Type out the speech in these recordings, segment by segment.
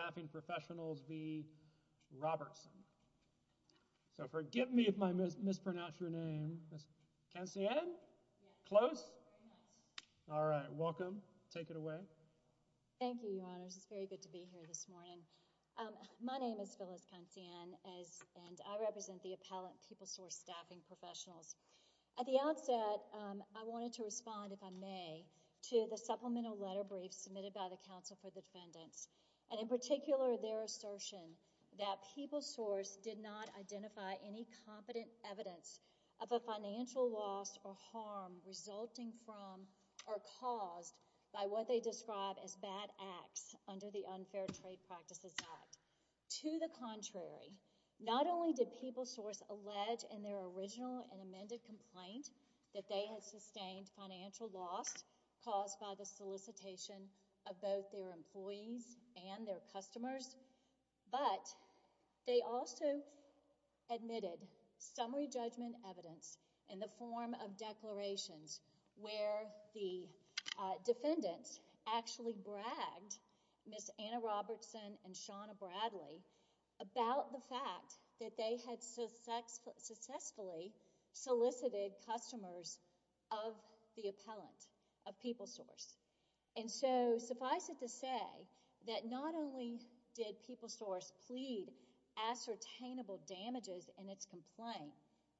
So, forgive me if I mispronounce your name, Ms. Cancian, close, all right, welcome, take it away. Thank you, Your Honors. It's very good to be here this morning. My name is Phyllis Cancian, and I represent the appellant People Source Staffing Professionals. At the outset, I wanted to respond, if I may, to the supplemental letter brief submitted by the Council for the Defendants. And in particular, their assertion that People Source did not identify any competent evidence of a financial loss or harm resulting from or caused by what they describe as bad acts under the Unfair Trade Practices Act. To the contrary, not only did People Source allege in their original and amended complaint that they had sustained financial loss caused by the solicitation of both their employees and their customers, but they also admitted summary judgment evidence in the form of declarations where the defendants actually bragged Ms. Anna Robertson and Shawna Bradley about the customers of the appellant, of People Source. And so, suffice it to say that not only did People Source plead ascertainable damages in its complaint,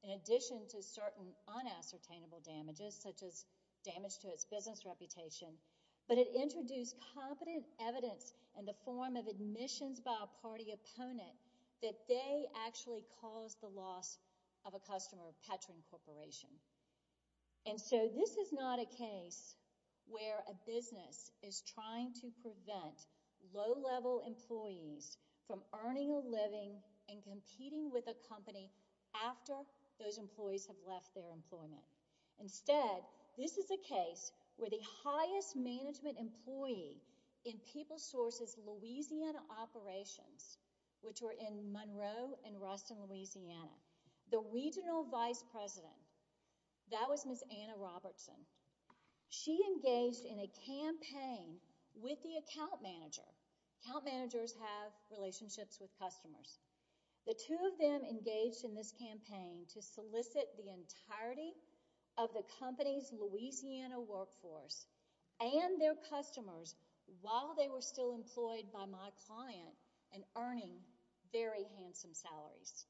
in addition to certain unascertainable damages, such as damage to its business reputation, but it introduced competent evidence in the form of admissions by a party opponent that they actually caused the loss of a customer of Petrin Corporation. And so, this is not a case where a business is trying to prevent low-level employees from earning a living and competing with a company after those employees have left their employment. Instead, this is a case where the highest management employee in People Source's Louisiana operations, which were in Monroe and Ruston, Louisiana, the regional vice president, that was Ms. Anna Robertson, she engaged in a campaign with the account manager. Account managers have relationships with customers. The two of them engaged in this campaign to solicit the entirety of the company's Louisiana workforce and their customers while they were still employed by my client and earning very handsome salaries.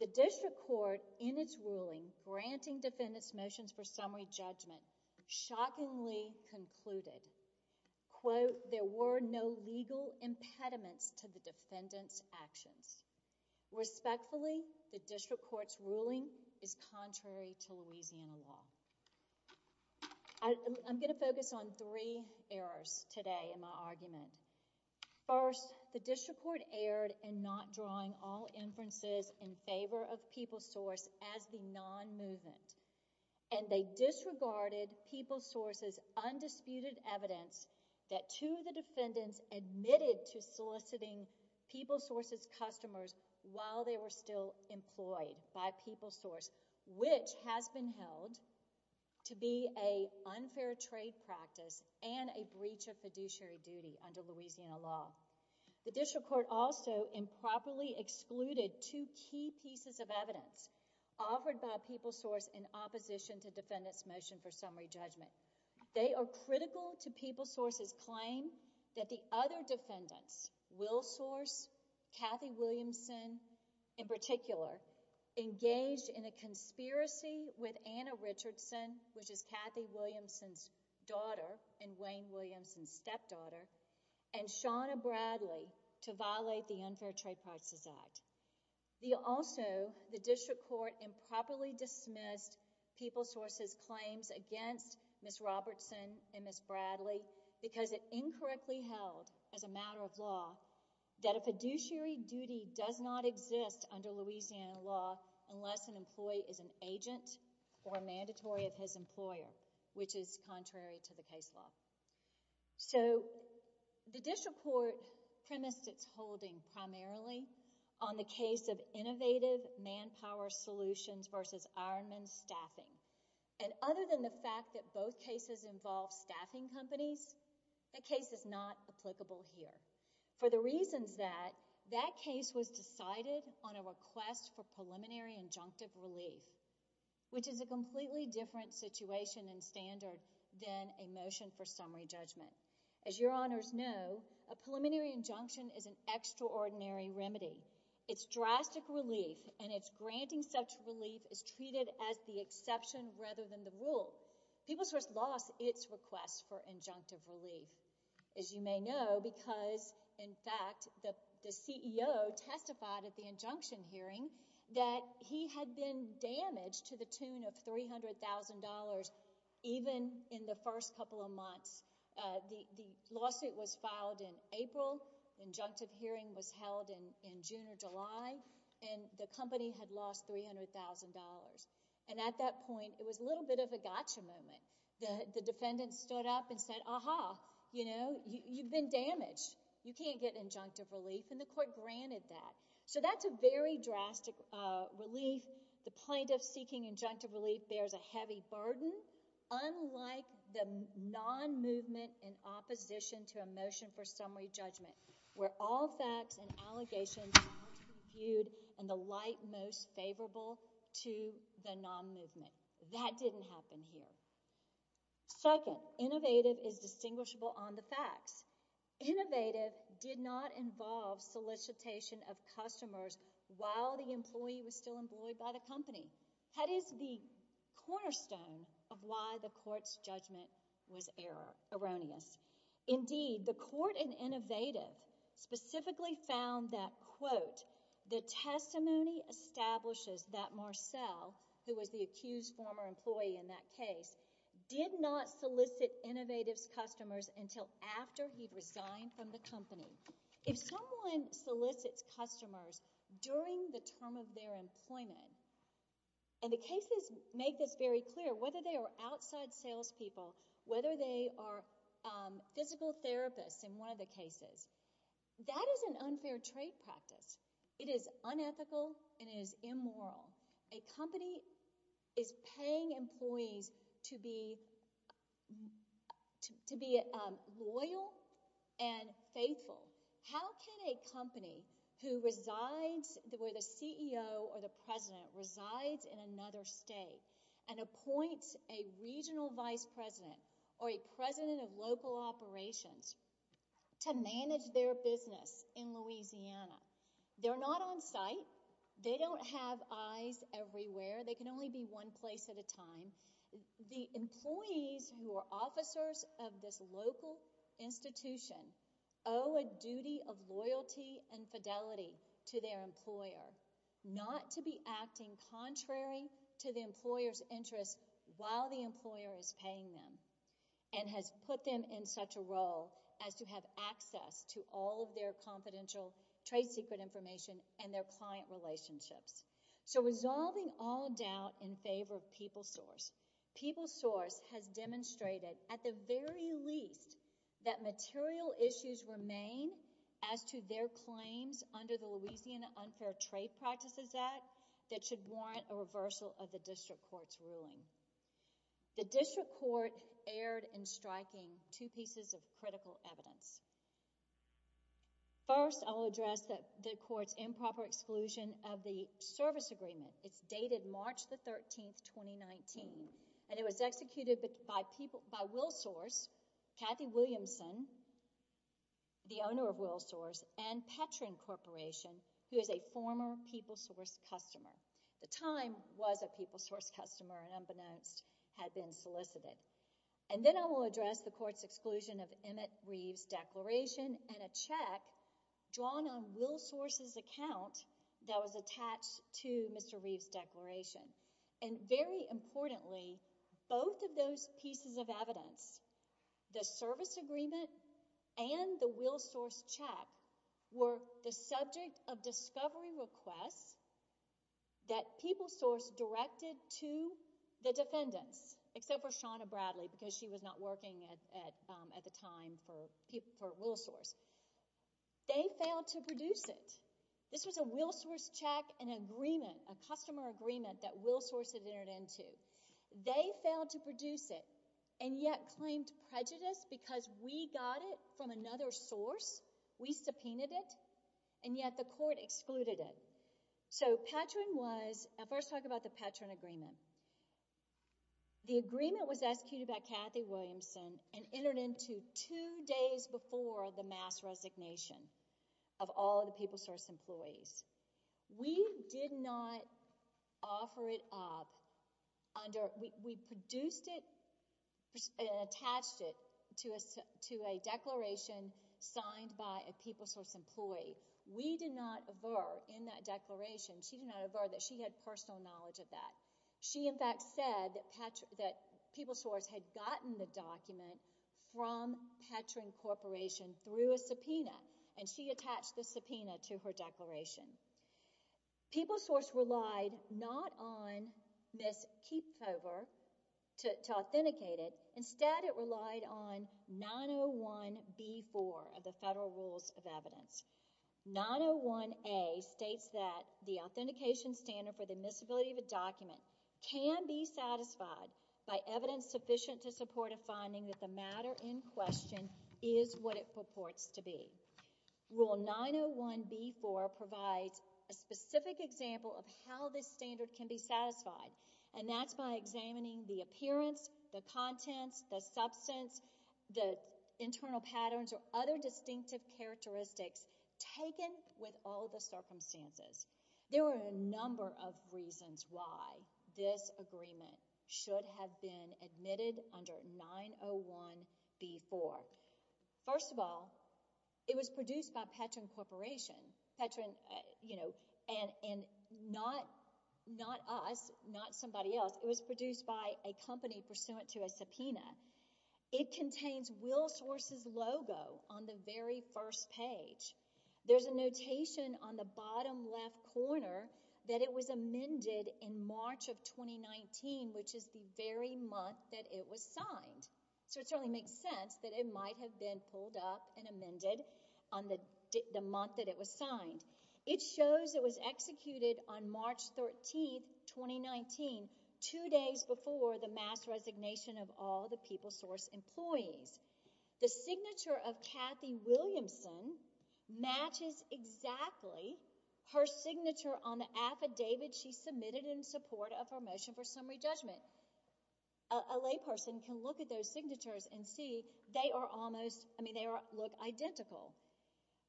The district court, in its ruling, granting defendants motions for summary judgment, shockingly concluded, quote, there were no legal impediments to the defendants' actions. Respectfully, the district court's ruling is contrary to Louisiana law. I'm going to focus on three errors today in my argument. First, the district court erred in not drawing all inferences in favor of People Source as the non-movement, and they disregarded People Source's undisputed evidence that two of the while they were still employed by People Source, which has been held to be an unfair trade practice and a breach of fiduciary duty under Louisiana law. The district court also improperly excluded two key pieces of evidence offered by People Source in opposition to defendants' motion for summary judgment. They are critical to People Source's claim that the other defendants, Will Source, Kathy Williamson in particular, engaged in a conspiracy with Anna Richardson, which is Kathy Williamson's daughter and Wayne Williamson's stepdaughter, and Shawna Bradley to violate the Unfair Trade Practices Act. Also, the district court improperly dismissed People Source's claims against Ms. Robertson and Ms. Bradley because it incorrectly held as a matter of law that a fiduciary duty does not exist under Louisiana law unless an employee is an agent or a mandatory of his employer, which is contrary to the case law. The district court premised its holding primarily on the case of Innovative Manpower Solutions v. Ironman Staffing, and other than the fact that both cases involve staffing companies, the case is not applicable here for the reasons that that case was decided on a request for preliminary injunctive relief, which is a completely different situation and standard than a motion for summary judgment. As your honors know, a preliminary injunction is an extraordinary remedy. Its drastic relief and its granting such relief is treated as the exception rather than the rule. People Source lost its request for injunctive relief, as you may know, because, in fact, the CEO testified at the injunction hearing that he had been damaged to the tune of $300,000 even in the first couple of months. The lawsuit was filed in April, the injunctive hearing was held in June or July, and the company had lost $300,000. At that point, it was a little bit of a gotcha moment. The defendant stood up and said, aha, you know, you've been damaged. You can't get injunctive relief, and the court granted that. That's a very drastic relief. The plaintiff seeking injunctive relief bears a heavy burden. Second, unlike the non-movement in opposition to a motion for summary judgment, where all facts and allegations are viewed in the light most favorable to the non-movement. That didn't happen here. Second, innovative is distinguishable on the facts. Innovative did not involve solicitation of customers while the employee was still employed by the company. That is the cornerstone of why the court's judgment was erroneous. Indeed, the court in innovative specifically found that, quote, the testimony establishes that Marcel, who was the accused former employee in that case, did not solicit innovative's customers until after he resigned from the company. If someone solicits customers during the term of their employment, and the cases make this very clear, whether they are outside salespeople, whether they are physical therapists in one of the cases, that is an unfair trade practice. It is unethical and it is immoral. A company is paying employees to be loyal and faithful. How can a company where the CEO or the president resides in another state and appoints a regional vice president or a president of local operations to manage their business in Louisiana? They're not on site. They don't have eyes everywhere. The employees who are officers of this local institution owe a duty of loyalty and fidelity to their employer, not to be acting contrary to the employer's interest while the employer is paying them, and has put them in such a role as to have access to all of their confidential trade secret information and their client relationships. Resolving all doubt in favor of PeopleSource, PeopleSource has demonstrated at the very least that material issues remain as to their claims under the Louisiana Unfair Trade Practices Act that should warrant a reversal of the district court's ruling. The district court erred in striking two pieces of critical evidence. First, I will address the court's improper exclusion of the service agreement. It's dated March the 13th, 2019, and it was executed by WillSource, Kathy Williamson, the owner of WillSource, and Petrin Corporation, who is a former PeopleSource customer. The time was a PeopleSource customer and unbeknownst had been solicited. And then I will address the court's exclusion of Emmett Reeves' declaration and a check drawn on WillSource's account that was attached to Mr. Reeves' declaration. And very importantly, both of those pieces of evidence, the service agreement and the WillSource check, were the subject of discovery requests that PeopleSource directed to the judge, Ms. Bradley, because she was not working at the time for WillSource. They failed to produce it. This was a WillSource check, an agreement, a customer agreement that WillSource had entered into. They failed to produce it and yet claimed prejudice because we got it from another source, we subpoenaed it, and yet the court excluded it. So Petrin was—I'll first talk about the Petrin agreement. The agreement was executed by Kathy Williamson and entered into two days before the mass resignation of all of the PeopleSource employees. We did not offer it up under—we produced it and attached it to a declaration signed by a PeopleSource employee. We did not avert in that declaration—she did not avert that she had personal knowledge of that. She in fact said that PeopleSource had gotten the document from Petrin Corporation through a subpoena, and she attached the subpoena to her declaration. PeopleSource relied not on Ms. Keepover to authenticate it. Instead, it relied on 901B4 of the Federal Rules of Evidence. 901A states that the authentication standard for the admissibility of a document can be satisfied by evidence sufficient to support a finding that the matter in question is what it purports to be. Rule 901B4 provides a specific example of how this standard can be satisfied, and that's by examining the appearance, the contents, the substance, the internal patterns, or other distinctive characteristics taken with all the circumstances. There are a number of reasons why this agreement should have been admitted under 901B4. First of all, it was produced by Petrin Corporation, and not us, not somebody else. It was produced by a company pursuant to a subpoena. It contains WillSource's logo on the very first page. There's a notation on the bottom left corner that it was amended in March of 2019, which is the very month that it was signed, so it certainly makes sense that it might have been pulled up and amended on the month that it was signed. It shows it was executed on March 13, 2019, two days before the mass resignation of all the PeopleSource employees. The signature of Kathy Williamson matches exactly her signature on the affidavit she submitted in support of her motion for summary judgment. A layperson can look at those signatures and see they are almost, I mean, they look identical.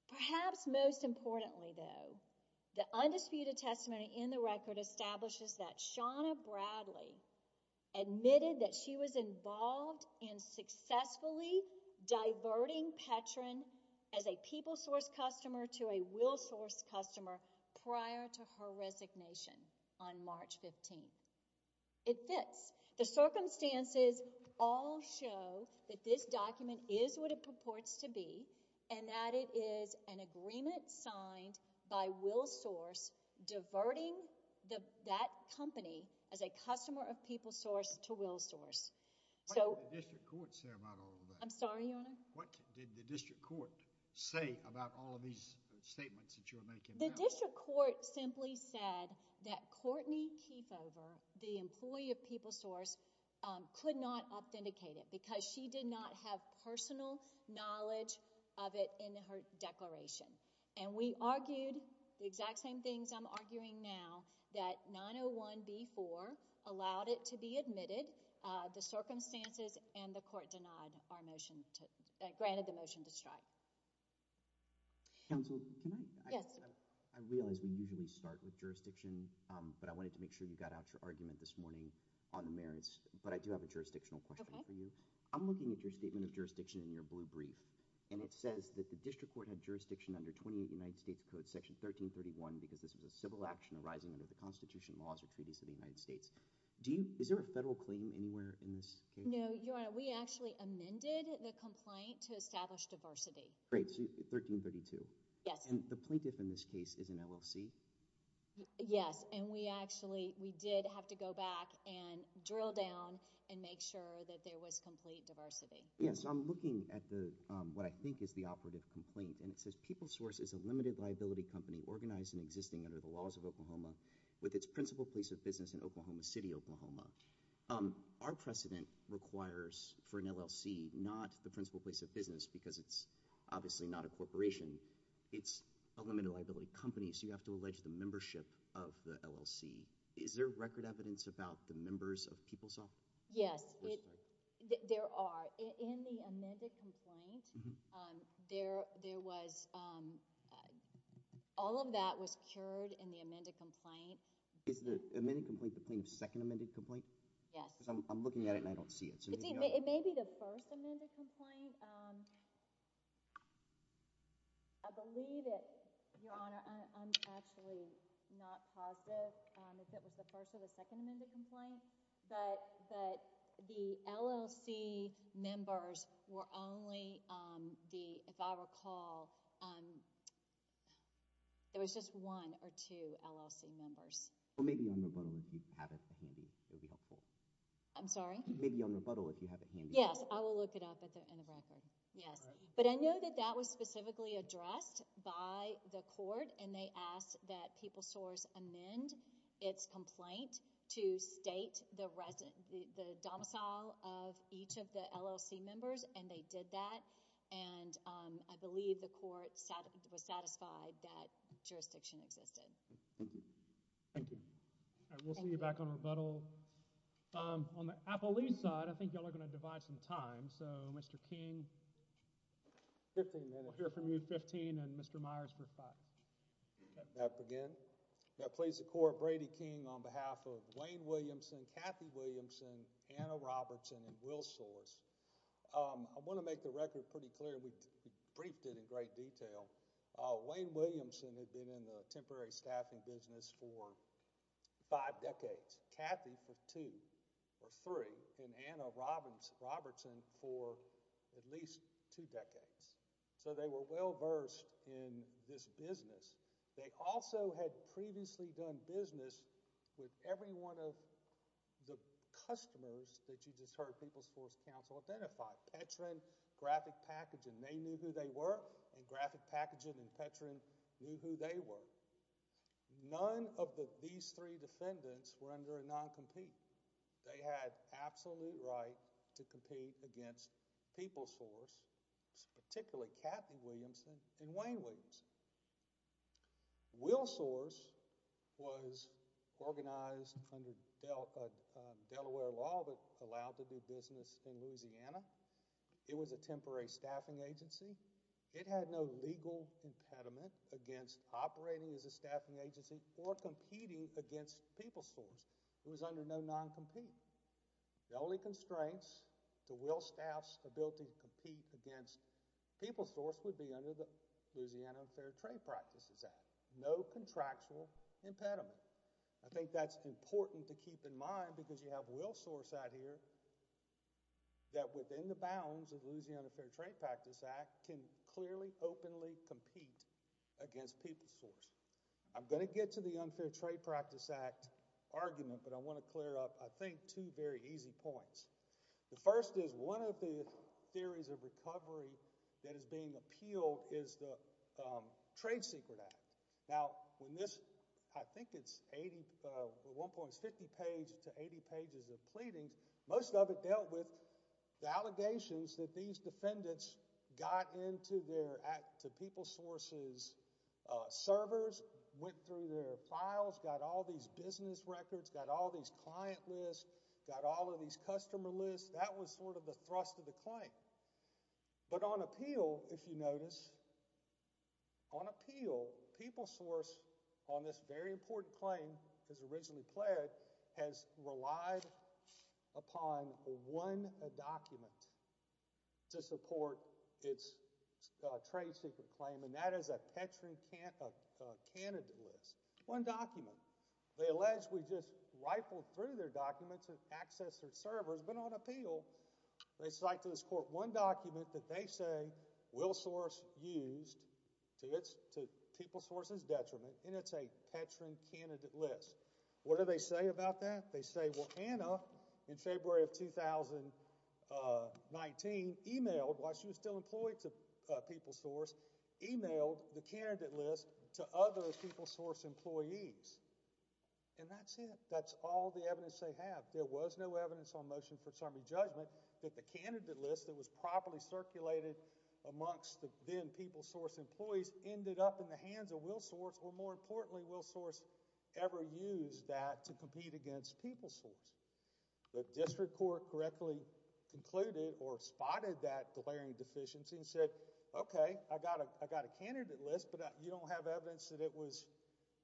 Perhaps most importantly, though, the undisputed testimony in the record establishes that Shawna Bradley admitted that she was involved in successfully diverting Petrin as a PeopleSource customer to a WillSource customer prior to her resignation on March 15. It fits. The circumstances all show that this document is what it purports to be, and that it is an agreement signed by WillSource diverting that company as a customer of PeopleSource to WillSource. What did the district court say about all of that? I'm sorry, Your Honor? What did the district court say about all of these statements that you are making now? The district court simply said that Courtney Keefover, the employee of PeopleSource, could not authenticate it because she did not have personal knowledge of it in her declaration. And we argued the exact same things I'm arguing now, that 901b-4 allowed it to be admitted, the circumstances, and the court denied our motion, granted the motion to strike. Counsel, can I? Yes. I realize we usually start with jurisdiction, but I wanted to make sure you got out your brief this morning on the merits, but I do have a jurisdictional question for you. I'm looking at your statement of jurisdiction in your blue brief, and it says that the district court had jurisdiction under 28 United States Code, Section 1331, because this was a civil action arising under the Constitution laws or treaties of the United States. Is there a federal claim anywhere in this case? No, Your Honor. We actually amended the complaint to establish diversity. Great, so 1332. Yes. And the plaintiff in this case is an LLC? Yes. And we actually, we did have to go back and drill down and make sure that there was complete diversity. Yes, I'm looking at what I think is the operative complaint, and it says PeopleSource is a limited liability company organized and existing under the laws of Oklahoma with its principal place of business in Oklahoma City, Oklahoma. Our precedent requires, for an LLC, not the principal place of business because it's obviously not a corporation, it's a limited liability company, so you have to allege the membership of the LLC. Is there record evidence about the members of PeopleSource? Yes. There are. In the amended complaint, there was, all of that was cured in the amended complaint. Is the amended complaint the same as the second amended complaint? Yes. Because I'm looking at it and I don't see it. It may be the first amended complaint. I believe it, Your Honor, I'm actually not positive if it was the first or the second amended complaint, but the LLC members were only the, if I recall, there was just one or two LLC members. Or maybe on rebuttal, if you have it handy, it would be helpful. I'm sorry? Maybe on rebuttal, if you have it handy. Yes. I will look it up at the end of record. Yes. But I know that that was specifically addressed by the court and they asked that PeopleSource amend its complaint to state the resident, the domicile of each of the LLC members, and they did that. And I believe the court was satisfied that jurisdiction existed. Thank you. Thank you. All right. We'll see you back on rebuttal. On the Appalachee side, I think y'all are going to divide some time, so Mr. King, you have 15 minutes. We'll hear from you at 15, and Mr. Myers for 5. May I begin? May I please the court, Brady King on behalf of Wayne Williamson, Kathy Williamson, Anna Robertson and WillSource. I want to make the record pretty clear. We briefed it in great detail. Wayne Williamson had been in the temporary staffing business for five decades. I'm sorry. I'm sorry. I'm sorry. I'm sorry. I'm sorry. I'm sorry. I'm sorry. And they resisted at least two decades. So they were well versed in this business. They also had previously done business with every one of the customers that you just heard Peoples Force Council identify, Petran, Graphic Packaging. They knew who they were, and Graphic Packaging and Petran knew who they were. None of these three defendants were under a noncompetent. They had absolute right to compete against Peoples Force, particularly Kathy Williamson and Wayne Williamson. Will Source was organized under Delaware law that allowed to do business in Louisiana. It was a temporary staffing agency. It had no legal impediment against operating as a staffing agency or competing against Peoples Force. It was under no non-competing. The only constraints to Will Staff's ability to compete against Peoples Force would be under the Louisiana Fair Trade Practices Act. No contractual impediment. I think that's important to keep in mind because you have Will Source out here that within the bounds of the Louisiana Fair Trade Practice Act can clearly, openly compete against Peoples Force. I'm going to get to the Unfair Trade Practice Act argument, but I want to clear up, I think, two very easy points. The first is one of the theories of recovery that is being appealed is the Trade Secret Act. Now, when this, I think it's 80, at one point it's 50 pages to 80 pages of pleadings, most of it dealt with the allegations that these defendants got into their, to Peoples Source's servers, went through their files, got all these business records, got all these client lists, got all of these customer lists. That was sort of the thrust of the claim. But on appeal, if you notice, on appeal, Peoples Force on this very important claim, as originally pled, has relied upon one document to support its trade secret claim, and that is a Petrie candidate list. One document. They allege we just rifled through their documents to access their servers, but on appeal, they cite to this court one document that they say Will Source used to its, to Peoples Source's detriment, and it's a Petrie candidate list. What do they say about that? They say, well, Anna, in February of 2019, emailed, while she was still employed to Peoples Source, emailed the candidate list to other Peoples Source employees, and that's it. That's all the evidence they have. There was no evidence on motion for summary judgment that the candidate list that was properly circulated amongst the then Peoples Source employees ended up in the hands of Will Source, or more importantly, Will Source ever used that to compete against Peoples Source. The district court correctly concluded or spotted that glaring deficiency and said, okay, I got a candidate list, but you don't have evidence that it was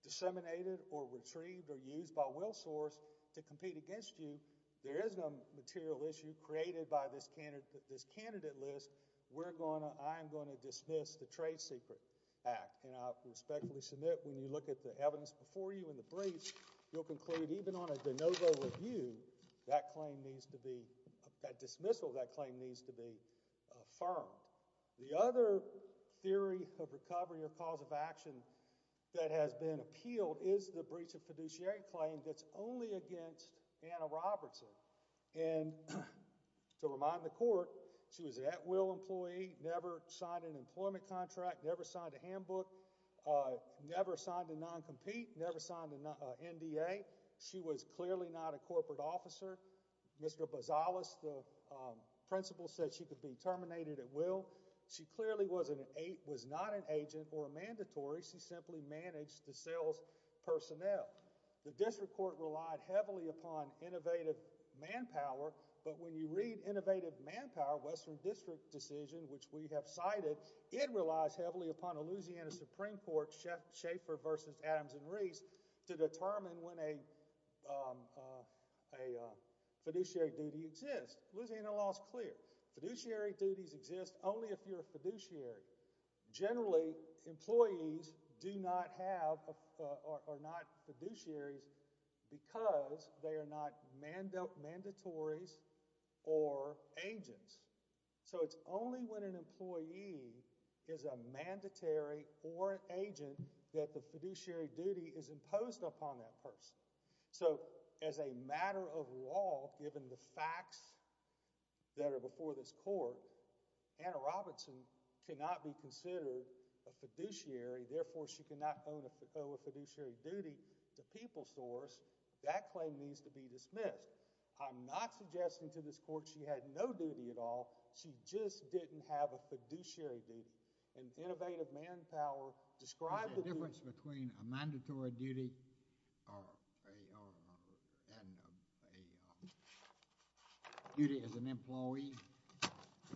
disseminated or retrieved or used by Will Source to compete against you. There is no material issue created by this candidate list. We're going to, I'm going to dismiss the trade secret act, and I respectfully submit, when you look at the evidence before you in the briefs, you'll conclude, even on a de novo review, that claim needs to be, that dismissal of that claim needs to be affirmed. The other theory of recovery or cause of action that has been appealed is the breach of fiduciary claim that's only against Anna Robertson, and to remind the court, she was an at-will employee, never signed an employment contract, never signed a handbook, never signed a non-compete, never signed an NDA. She was clearly not a corporate officer. Mr. Bozales, the principal, said she could be terminated at will. She clearly was not an agent or a mandatory. She simply managed the sales personnel. The district court relied heavily upon innovative manpower, but when you read innovative manpower, Western District decision, which we have cited, it relies heavily upon a Louisiana Supreme Court, Schaffer versus Adams and Reese, to determine when a fiduciary duty exists. Louisiana law is clear. Fiduciary duties exist only if you're a fiduciary. Generally, employees do not have or are not fiduciaries because they are not mandatories or agents. It's only when an employee is a mandatory or an agent that the fiduciary duty is imposed upon that person. So, as a matter of law, given the facts that are before this court, Anna Robertson cannot be considered a fiduciary, therefore, she cannot owe a fiduciary duty to People Source. That claim needs to be dismissed. I'm not suggesting to this court she had no duty at all. She just didn't have a fiduciary duty, and innovative manpower described... Is there a difference between a mandatory duty and a duty as an employee?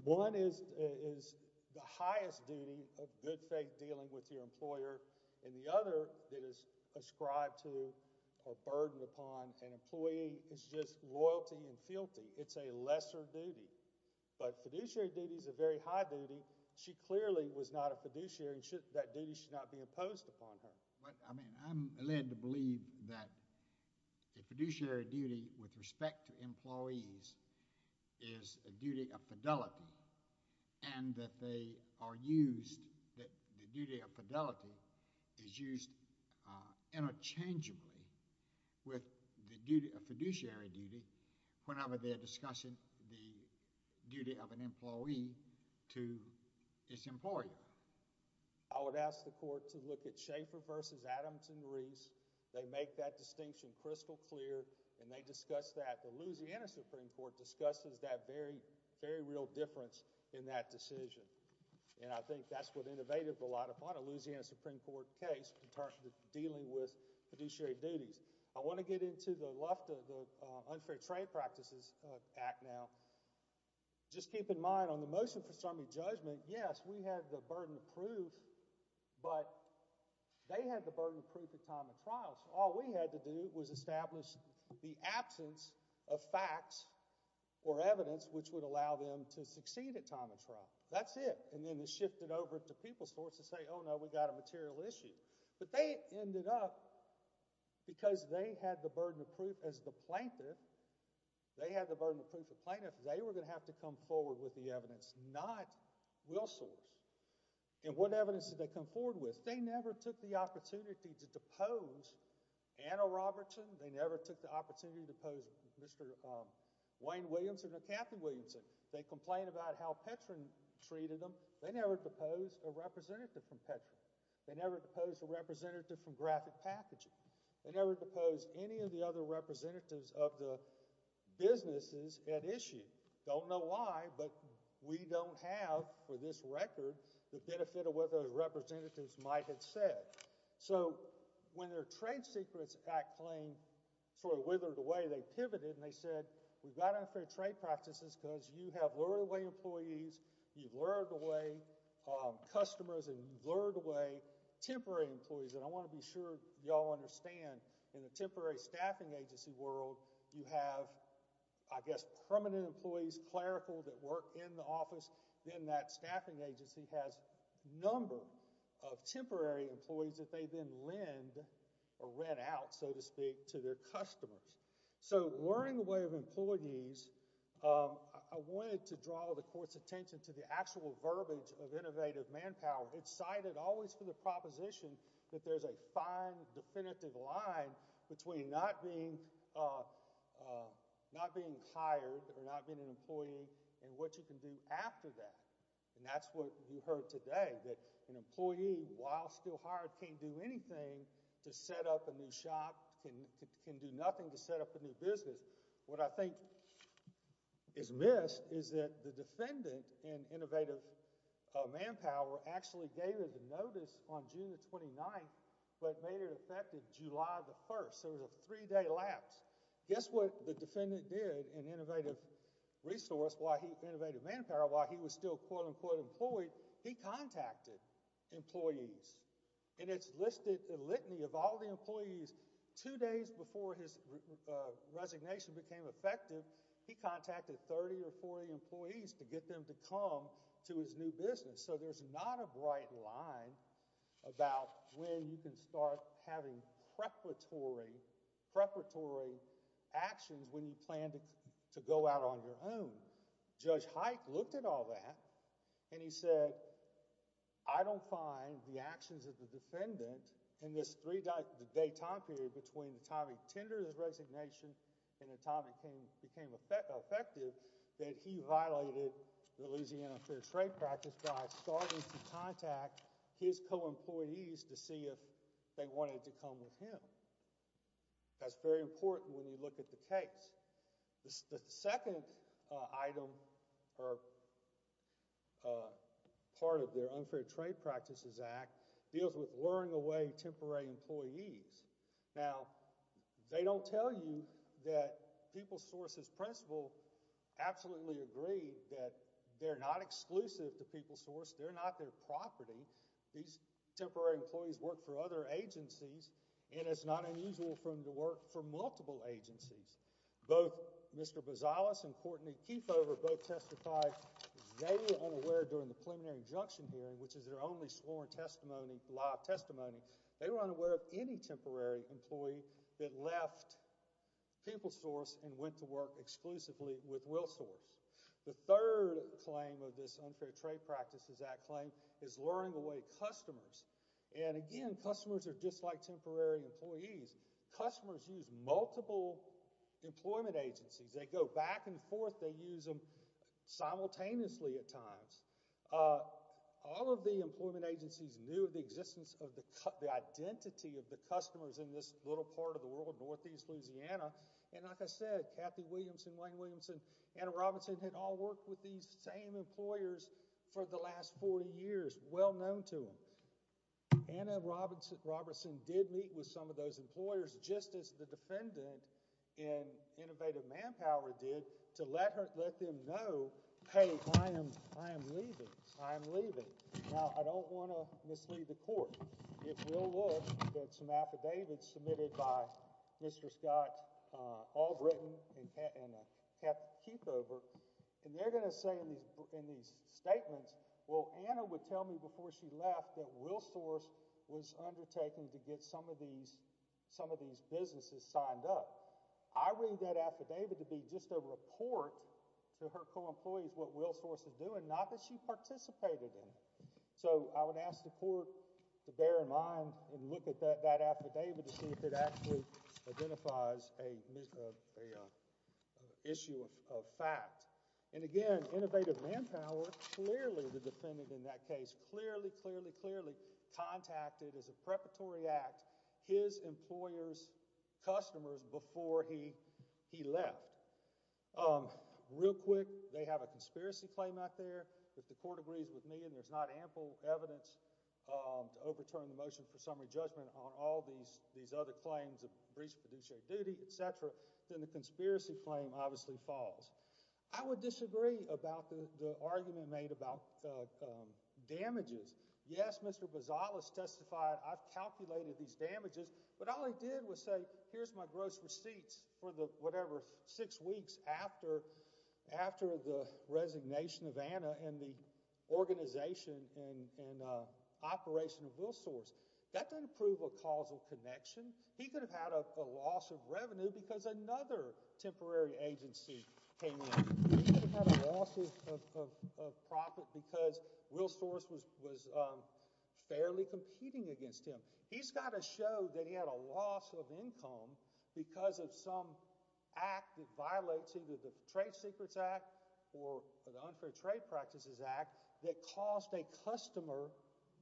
One is the highest duty of good faith dealing with your employer, and the other that is ascribed to or burdened upon an employee is just loyalty and fealty. It's a lesser duty, but fiduciary duty is a very high duty. She clearly was not a fiduciary, and that duty should not be imposed upon her. I'm led to believe that a fiduciary duty with respect to employees is a duty of fidelity, and that the duty of fidelity is used interchangeably with the duty of fiduciary duty whenever they are discussing the duty of an employee to his employer. I would ask the court to look at Shaffer v. Adamson-Reese. They make that distinction crystal clear, and they discuss that. The Louisiana Supreme Court discusses that very, very real difference in that decision. I think that's what innovated a lot upon a Louisiana Supreme Court case in terms of dealing with fiduciary duties. I want to get into the left of the Unfair Trade Practices Act now. Just keep in mind, on the motion for summary judgment, yes, we had the burden of proof, but they had the burden of proof at time of trial, so all we had to do was establish the absence of facts or evidence which would allow them to succeed at time of trial. That's it. Then it shifted over to people's courts to say, oh, no, we've got a material issue. They ended up, because they had the burden of proof as the plaintiff, they had the burden of proof as the plaintiff, they were going to have to come forward with the evidence, not Willsors. What evidence did they come forward with? They never took the opportunity to depose Anna Robertson. They never took the opportunity to depose Mr. Wayne Williamson or Kathy Williamson. They complained about how Petrin treated them. They never deposed a representative from Petrin. They never deposed a representative from Graphic Packaging. They never deposed any of the other representatives of the businesses at issue. Don't know why, but we don't have, for this record, the benefit of what those representatives might have said. So when their Trade Secrets Act claim sort of withered away, they pivoted and they said, we've got unfair trade practices because you have lured away employees, you've lured away customers, and you've lured away temporary employees. And I want to be sure you all understand, in the temporary staffing agency world, you have, I guess, permanent employees, clerical that work in the office, then that staffing agency has a number of temporary employees that they then lend or rent out, so to speak, to their customers. So luring away of employees, I wanted to draw the court's attention to the actual verbiage of innovative manpower. It's cited always for the proposition that there's a fine definitive line between not being hired or not being an employee and what you can do after that. And that's what we heard today, that an employee, while still hired, can't do anything to set up a new shop, can do nothing to set up a new business. What I think is missed is that the defendant in innovative manpower actually gave the notice on June the 29th, but made it effective July the 1st, so it was a three-day lapse. Guess what the defendant did in innovative resource, in innovative manpower, while he was still, quote-unquote, employed, he contacted employees, and it's listed the litany of all the employees, two days before his resignation became effective, he contacted 30 or 40 employees to get them to come to his new business. So there's not a bright line about when you can start having preparatory actions when you plan to go out on your own. Judge Hike looked at all that, and he said, I don't find the actions of the defendant in this three-day time period between the time he tendered his resignation and the time it became effective that he violated the Louisiana Unfair Trade Practice by starting to contact his co-employees to see if they wanted to come with him. That's very important when you look at the case. The second item, or part of their Unfair Trade Practices Act, deals with luring away employees temporary employees. Now, they don't tell you that PeopleSource's principle absolutely agreed that they're not exclusive to PeopleSource, they're not their property. These temporary employees work for other agencies, and it's not unusual for them to work for multiple agencies. Both Mr. Bozales and Courtney Keefover both testified they were unaware during the Preliminary Injunction hearing, which is their only sworn testimony, live testimony, they were unaware of any temporary employee that left PeopleSource and went to work exclusively with WillSource. The third claim of this Unfair Trade Practices Act claim is luring away customers, and again, customers are just like temporary employees. Customers use multiple employment agencies. They go back and forth, they use them simultaneously at times. All of the employment agencies knew of the existence of the identity of the customers in this little part of the world, Northeast Louisiana, and like I said, Kathy Williamson, Wayne Williamson, Anna Robertson had all worked with these same employers for the last 40 years, well known to them. Anna Robertson did meet with some of those employers, just as the defendant in Innovative Manpower did, to let them know, hey, I am leaving, I am leaving. Now, I don't want to mislead the court. It will look that some affidavits submitted by Mr. Scott Albritton and Kathy Keefover, and they're going to say in these statements, well, Anna would tell me before she left that WillSource was undertaken to get some of these businesses signed up. I read that affidavit to be just a report to her co-employees what WillSource was doing, not that she participated in it. So, I would ask the court to bear in mind when you look at that affidavit to see if it actually identifies an issue of fact. And again, Innovative Manpower, clearly the defendant in that case, clearly, clearly, clearly contacted as a preparatory act his employer's customers before he left. Real quick, they have a conspiracy claim out there that the court agrees with me and there's not ample evidence to overturn the motion for summary judgment on all these other claims of breach of fiduciary duty, etc. Then the conspiracy claim obviously falls. I would disagree about the argument made about damages. Yes, Mr. Bazzalos testified, I've calculated these damages, but all he did was say, here's my gross receipts for the whatever six weeks after the resignation of Anna and the organization and operation of WillSource. That doesn't prove a causal connection. He could have had a loss of revenue because another temporary agency came in. He could have had a loss of profit because WillSource was fairly competing against him. He's got to show that he had a loss of income because of some act that violates either the Trade Secrets Act or the Unfair Trade Practices Act that caused a customer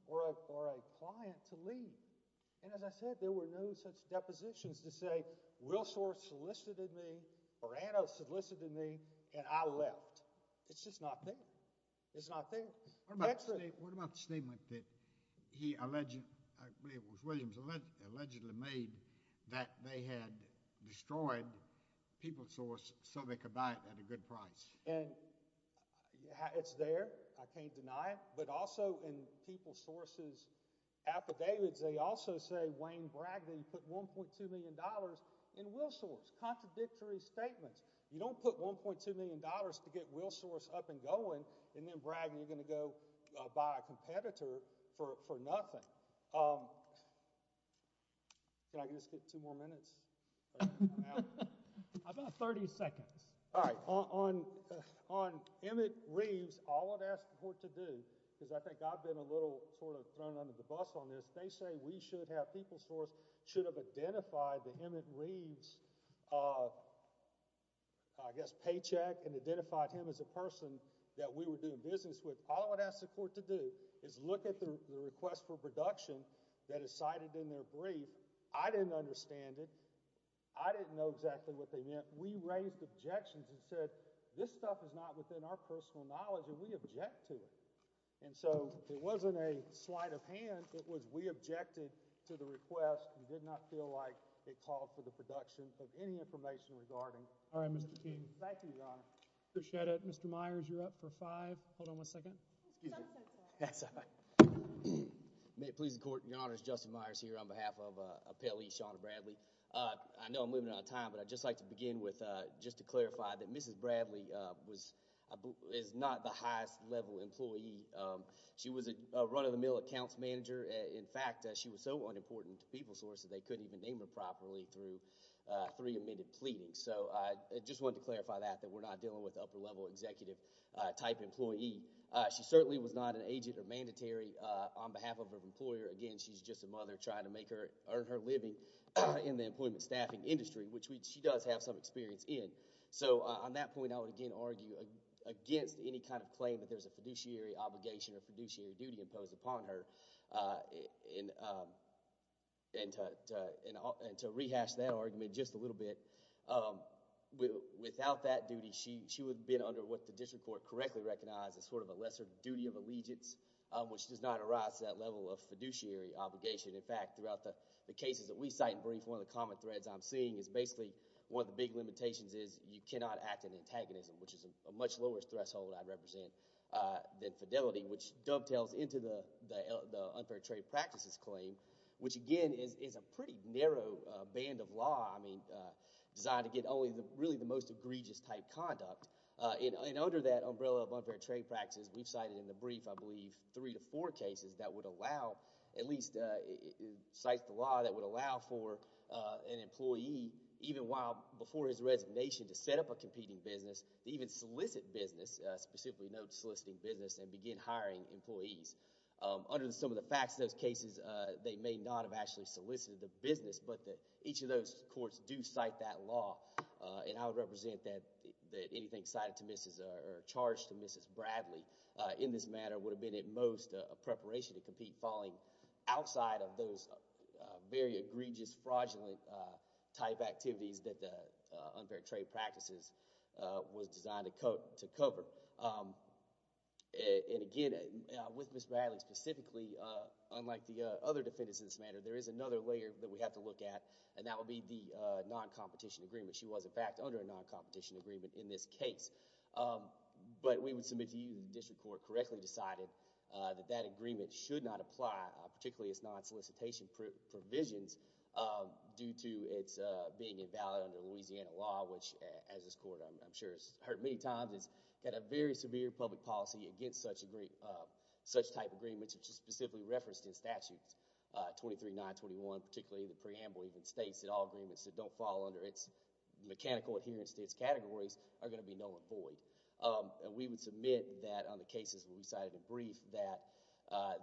or a client to leave. And as I said, there were no such depositions to say WillSource solicited me or Anna solicited me and I left. It's just not fair. It's not fair. What about the statement that he alleged, I believe it was Williams, allegedly made that they had destroyed PeopleSource so they could buy it at a good price? It's there. I can't deny it. But also in PeopleSource's affidavits, they also say Wayne Bragdon put $1.2 million in WillSource. Contradictory statements. You don't put $1.2 million to get WillSource up and going and then Bragdon, you're going to go buy a competitor for nothing. Can I just get two more minutes? About 30 seconds. All right. On Emmett Reeves, all I've asked the court to do, because I think I've been a little sort of thrown under the bus on this, they say we should have, PeopleSource should have identified the Emmett Reeves, I guess, paycheck and identified him as a person that we were doing business with. All I would ask the court to do is look at the request for production that is cited in their brief. I didn't understand it. I didn't know exactly what they meant. We raised objections and said this stuff is not within our personal knowledge and we object to it. It wasn't a slight of hand. It was we objected to the request. We did not feel like it called for the production of any information regarding Emmett Reeves. Thank you, Your Honor. I appreciate it. Mr. Myers, you're up for five. Hold on one second. May it please the court. Your Honor, it's Justin Myers here on behalf of Appellee Shawna Bradley. I know I'm moving out of time, but I'd just like to begin with just to clarify that Mrs. Bradley is a high-level employee. She was a run-of-the-mill accounts manager. In fact, she was so unimportant to PeopleSource that they couldn't even name her properly through three-minute pleading. I just wanted to clarify that, that we're not dealing with upper-level executive-type employee. She certainly was not an agent or mandatory on behalf of her employer. Again, she's just a mother trying to earn her living in the employment staffing industry, which she does have some experience in. On that point, I would, again, argue against any kind of claim that there's a fiduciary obligation or fiduciary duty imposed upon her and to rehash that argument just a little bit. Without that duty, she would have been under what the district court correctly recognized as sort of a lesser duty of allegiance, which does not arise to that level of fiduciary obligation. In fact, throughout the cases that we cite and brief, one of the common threads I'm seeing is basically one of the big limitations is you cannot act in antagonism, which is a much lower threshold I represent than fidelity, which dovetails into the unfair trade practices claim, which, again, is a pretty narrow band of law designed to get only really the most egregious-type conduct. Under that umbrella of unfair trade practices, we've cited in the brief, I believe, three to four cases that would allow, at least, it cites the law that would allow for an employee, even while before his resignation, to set up a competing business, even solicit business, specifically no soliciting business, and begin hiring employees. Under some of the facts of those cases, they may not have actually solicited the business, but each of those courts do cite that law. I would represent that anything cited to Mrs.... or charged to Mrs. Bradley in this matter would have been, at most, a preparation to compete falling outside of those very egregious, fraudulent-type activities that the unfair trade practices was designed to cover. Again, with Mrs. Bradley specifically, unlike the other defendants in this matter, there is another layer that we have to look at, and that would be the non-competition agreement. She was, in fact, under a non-competition agreement in this case, but we would submit to you if the district court correctly decided that that agreement should not apply, particularly its non-solicitation provisions, due to its being invalid under Louisiana law, which, as this court, I'm sure has heard many times, has got a very severe public policy against such type of agreements, which is specifically referenced in Statutes 23-921, particularly the preamble even states that all agreements that don't fall under its mechanical adherence to its categories are going to be null and void. We would submit that, on the cases we decided to brief, that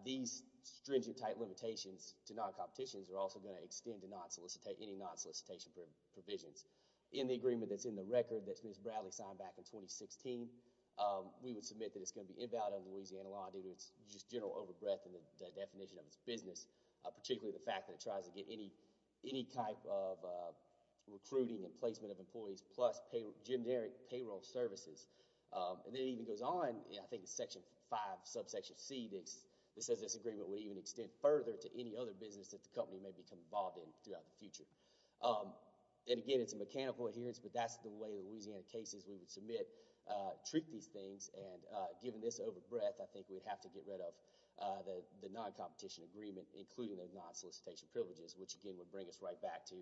these stringent-type limitations to non-competitions are also going to extend to any non-solicitation provisions. In the agreement that's in the record that Mrs. Bradley signed back in 2016, we would submit that it's going to be invalid under Louisiana law, due to its general over-breath in the definition of its business, particularly the fact that it tries to get any type of And then it even goes on, I think it's Section 5, subsection C, that says this agreement would even extend further to any other business that the company may become involved in throughout the future. And again, it's a mechanical adherence, but that's the way the Louisiana cases we would submit treat these things, and given this over-breath, I think we'd have to get rid of the non-competition agreement, including the non-solicitation privileges, which again would bring us right back to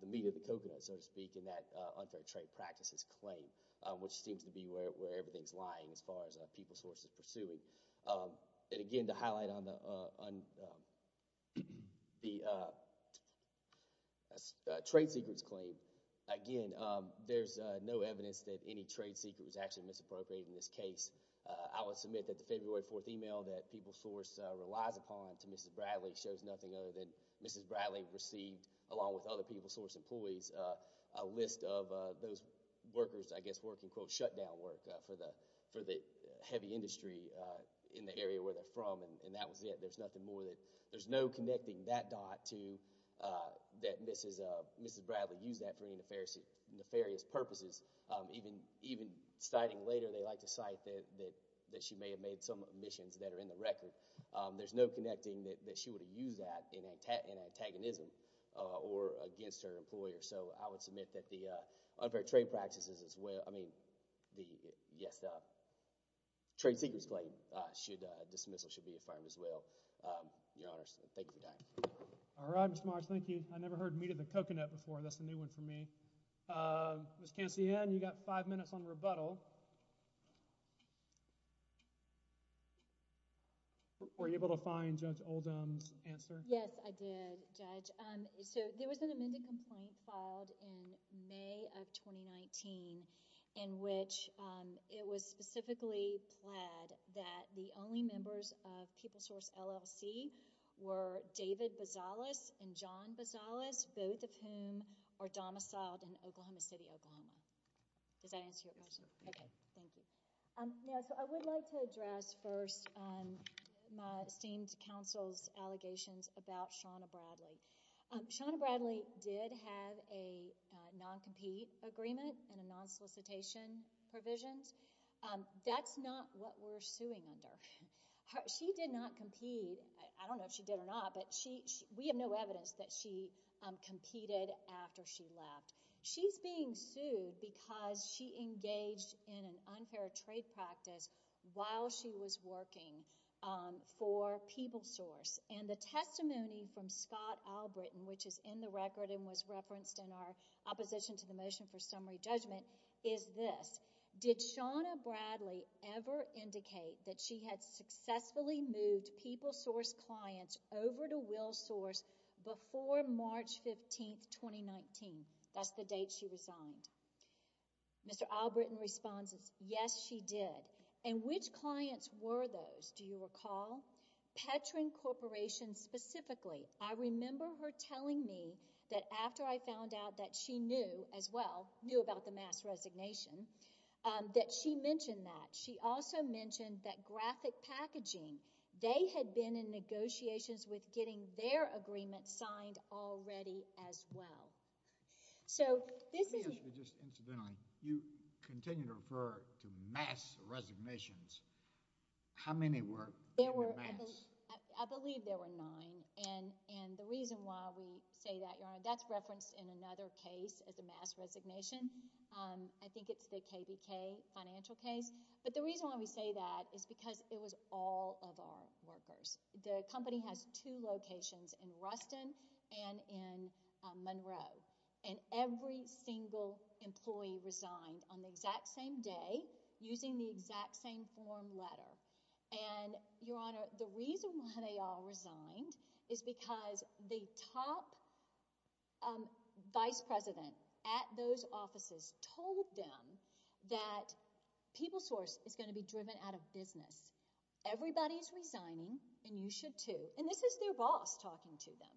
the meat of the coconut, so to speak, in that unfair trade practices claim, which seems to be where everything's lying as far as PeopleSource is pursuing. And again, to highlight on the trade secrets claim, again, there's no evidence that any trade secret was actually misappropriated in this case. I would submit that the February 4th email that PeopleSource relies upon to Mrs. Bradley shows nothing other than Mrs. Bradley received, along with other PeopleSource employees, a lot of those workers, I guess, work in, quote, shutdown work for the heavy industry in the area where they're from, and that was it. There's nothing more than—there's no connecting that dot to that Mrs. Bradley used that for any nefarious purposes. Even citing later, they like to cite that she may have made some omissions that are in the record. There's no connecting that she would have used that in antagonism or against her employer. So I would submit that the unfair trade practices as well—I mean, yes, the trade secrets claim should—dismissal should be affirmed as well. Your Honors, thank you for that. All right, Mr. Morris, thank you. I never heard me to the coconut before. That's a new one for me. Ms. Cancian, you've got five minutes on rebuttal. Were you able to find Judge Oldham's answer? Yes, I did, Judge. So there was an amended complaint filed in May of 2019 in which it was specifically pled that the only members of PeopleSource LLC were David Bozales and John Bozales, both of whom are domiciled in Oklahoma City, Oklahoma. Does that answer your question? Yes, it does. Okay, thank you. So I would like to address first my esteemed counsel's allegations about Shawna Bradley. Shawna Bradley did have a non-compete agreement and a non-solicitation provisions. That's not what we're suing under. She did not compete. I don't know if she did or not, but we have no evidence that she competed after she left. She's being sued because she engaged in an unfair trade practice while she was working for PeopleSource. And the testimony from Scott Albritton, which is in the record and was referenced in our opposition to the motion for summary judgment, is this. Did Shawna Bradley ever indicate that she had successfully moved PeopleSource clients over to WillSource before March 15, 2019? That's the date she resigned. Mr. Albritton responds, yes, she did. And which clients were those? Do you recall? Petrin Corporation specifically. I remember her telling me that after I found out that she knew as well, knew about the mass resignation, that she mentioned that. She also mentioned that Graphic Packaging, they had been in negotiations with getting their agreement signed already as well. So this is— Let me ask you just incidentally, you continue to refer to mass resignations. How many were in the mass? I believe there were nine. And the reason why we say that, Your Honor, that's referenced in another case as a mass resignation. I think it's the KBK financial case. But the reason why we say that is because it was all of our workers. The company has two locations in Ruston and in Monroe. And every single employee resigned on the exact same day using the exact same form letter. And, Your Honor, the reason why they all resigned is because the top vice president at those offices told them that PeopleSource is going to be driven out of business. Everybody's resigning, and you should too. And this is their boss talking to them.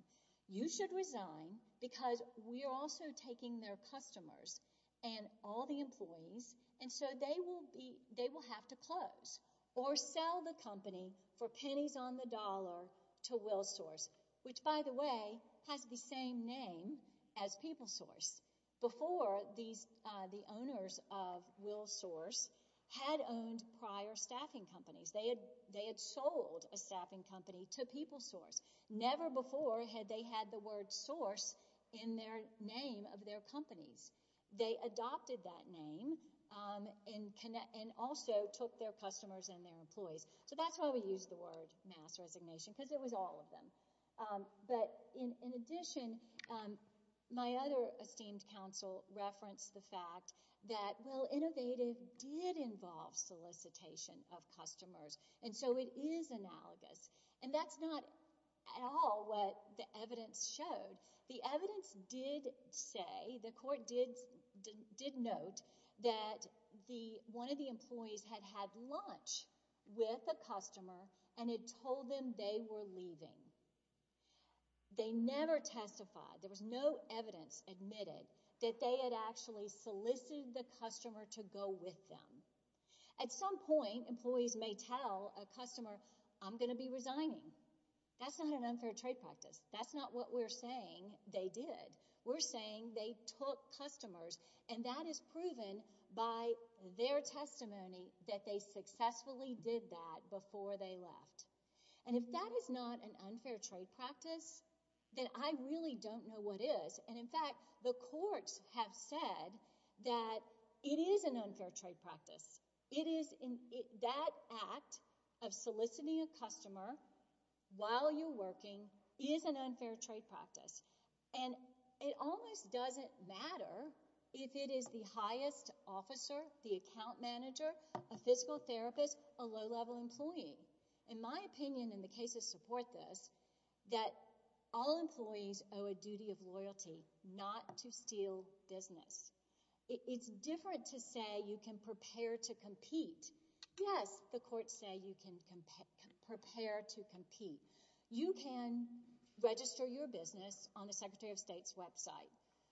You should resign because we are also taking their customers and all the employees, and so they will have to close or sell the company for pennies on the dollar to WillSource, which by the way has the same name as PeopleSource. Before, the owners of WillSource had owned prior staffing companies. They had sold a staffing company to PeopleSource. Never before had they had the word source in their name of their companies. They adopted that name and also took their customers and their employees. So that's why we use the word mass resignation, because it was all of them. But in addition, my other esteemed counsel referenced the fact that, well, Innovative did involve solicitation of customers, and so it is analogous. And that's not at all what the evidence showed. The evidence did say, the court did note, that one of the employees had had lunch with a customer and had told them they were leaving. They never testified. There was no evidence admitted that they had actually solicited the customer to go with them. At some point, employees may tell a customer, I'm going to be resigning. That's not an unfair trade practice. That's not what we're saying they did. We're saying they took customers, and that is proven by their testimony that they successfully did that before they left. And if that is not an unfair trade practice, then I really don't know what is. And in fact, the courts have said that it is an unfair trade practice. That act of soliciting a customer while you're working is an unfair trade practice. And it almost doesn't matter if it is the highest officer, the account manager, a physical therapist, a low-level employee. In my opinion, and the cases support this, that all employees owe a duty of loyalty not to steal business. It's different to say you can prepare to compete. Yes, the courts say you can prepare to compete. You can register your business on the Secretary of State's website.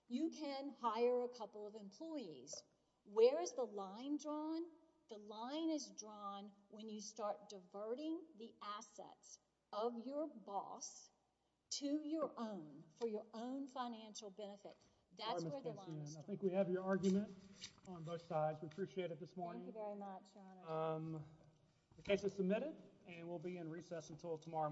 You can hire a couple of employees. Where is the line drawn? The line is drawn when you start diverting the assets of your boss to your own for your own financial benefit. That's where the line is drawn. I think we have your argument on both sides. We appreciate it this morning. Thank you very much, Your Honor. The case is submitted, and we'll be in recess until tomorrow morning.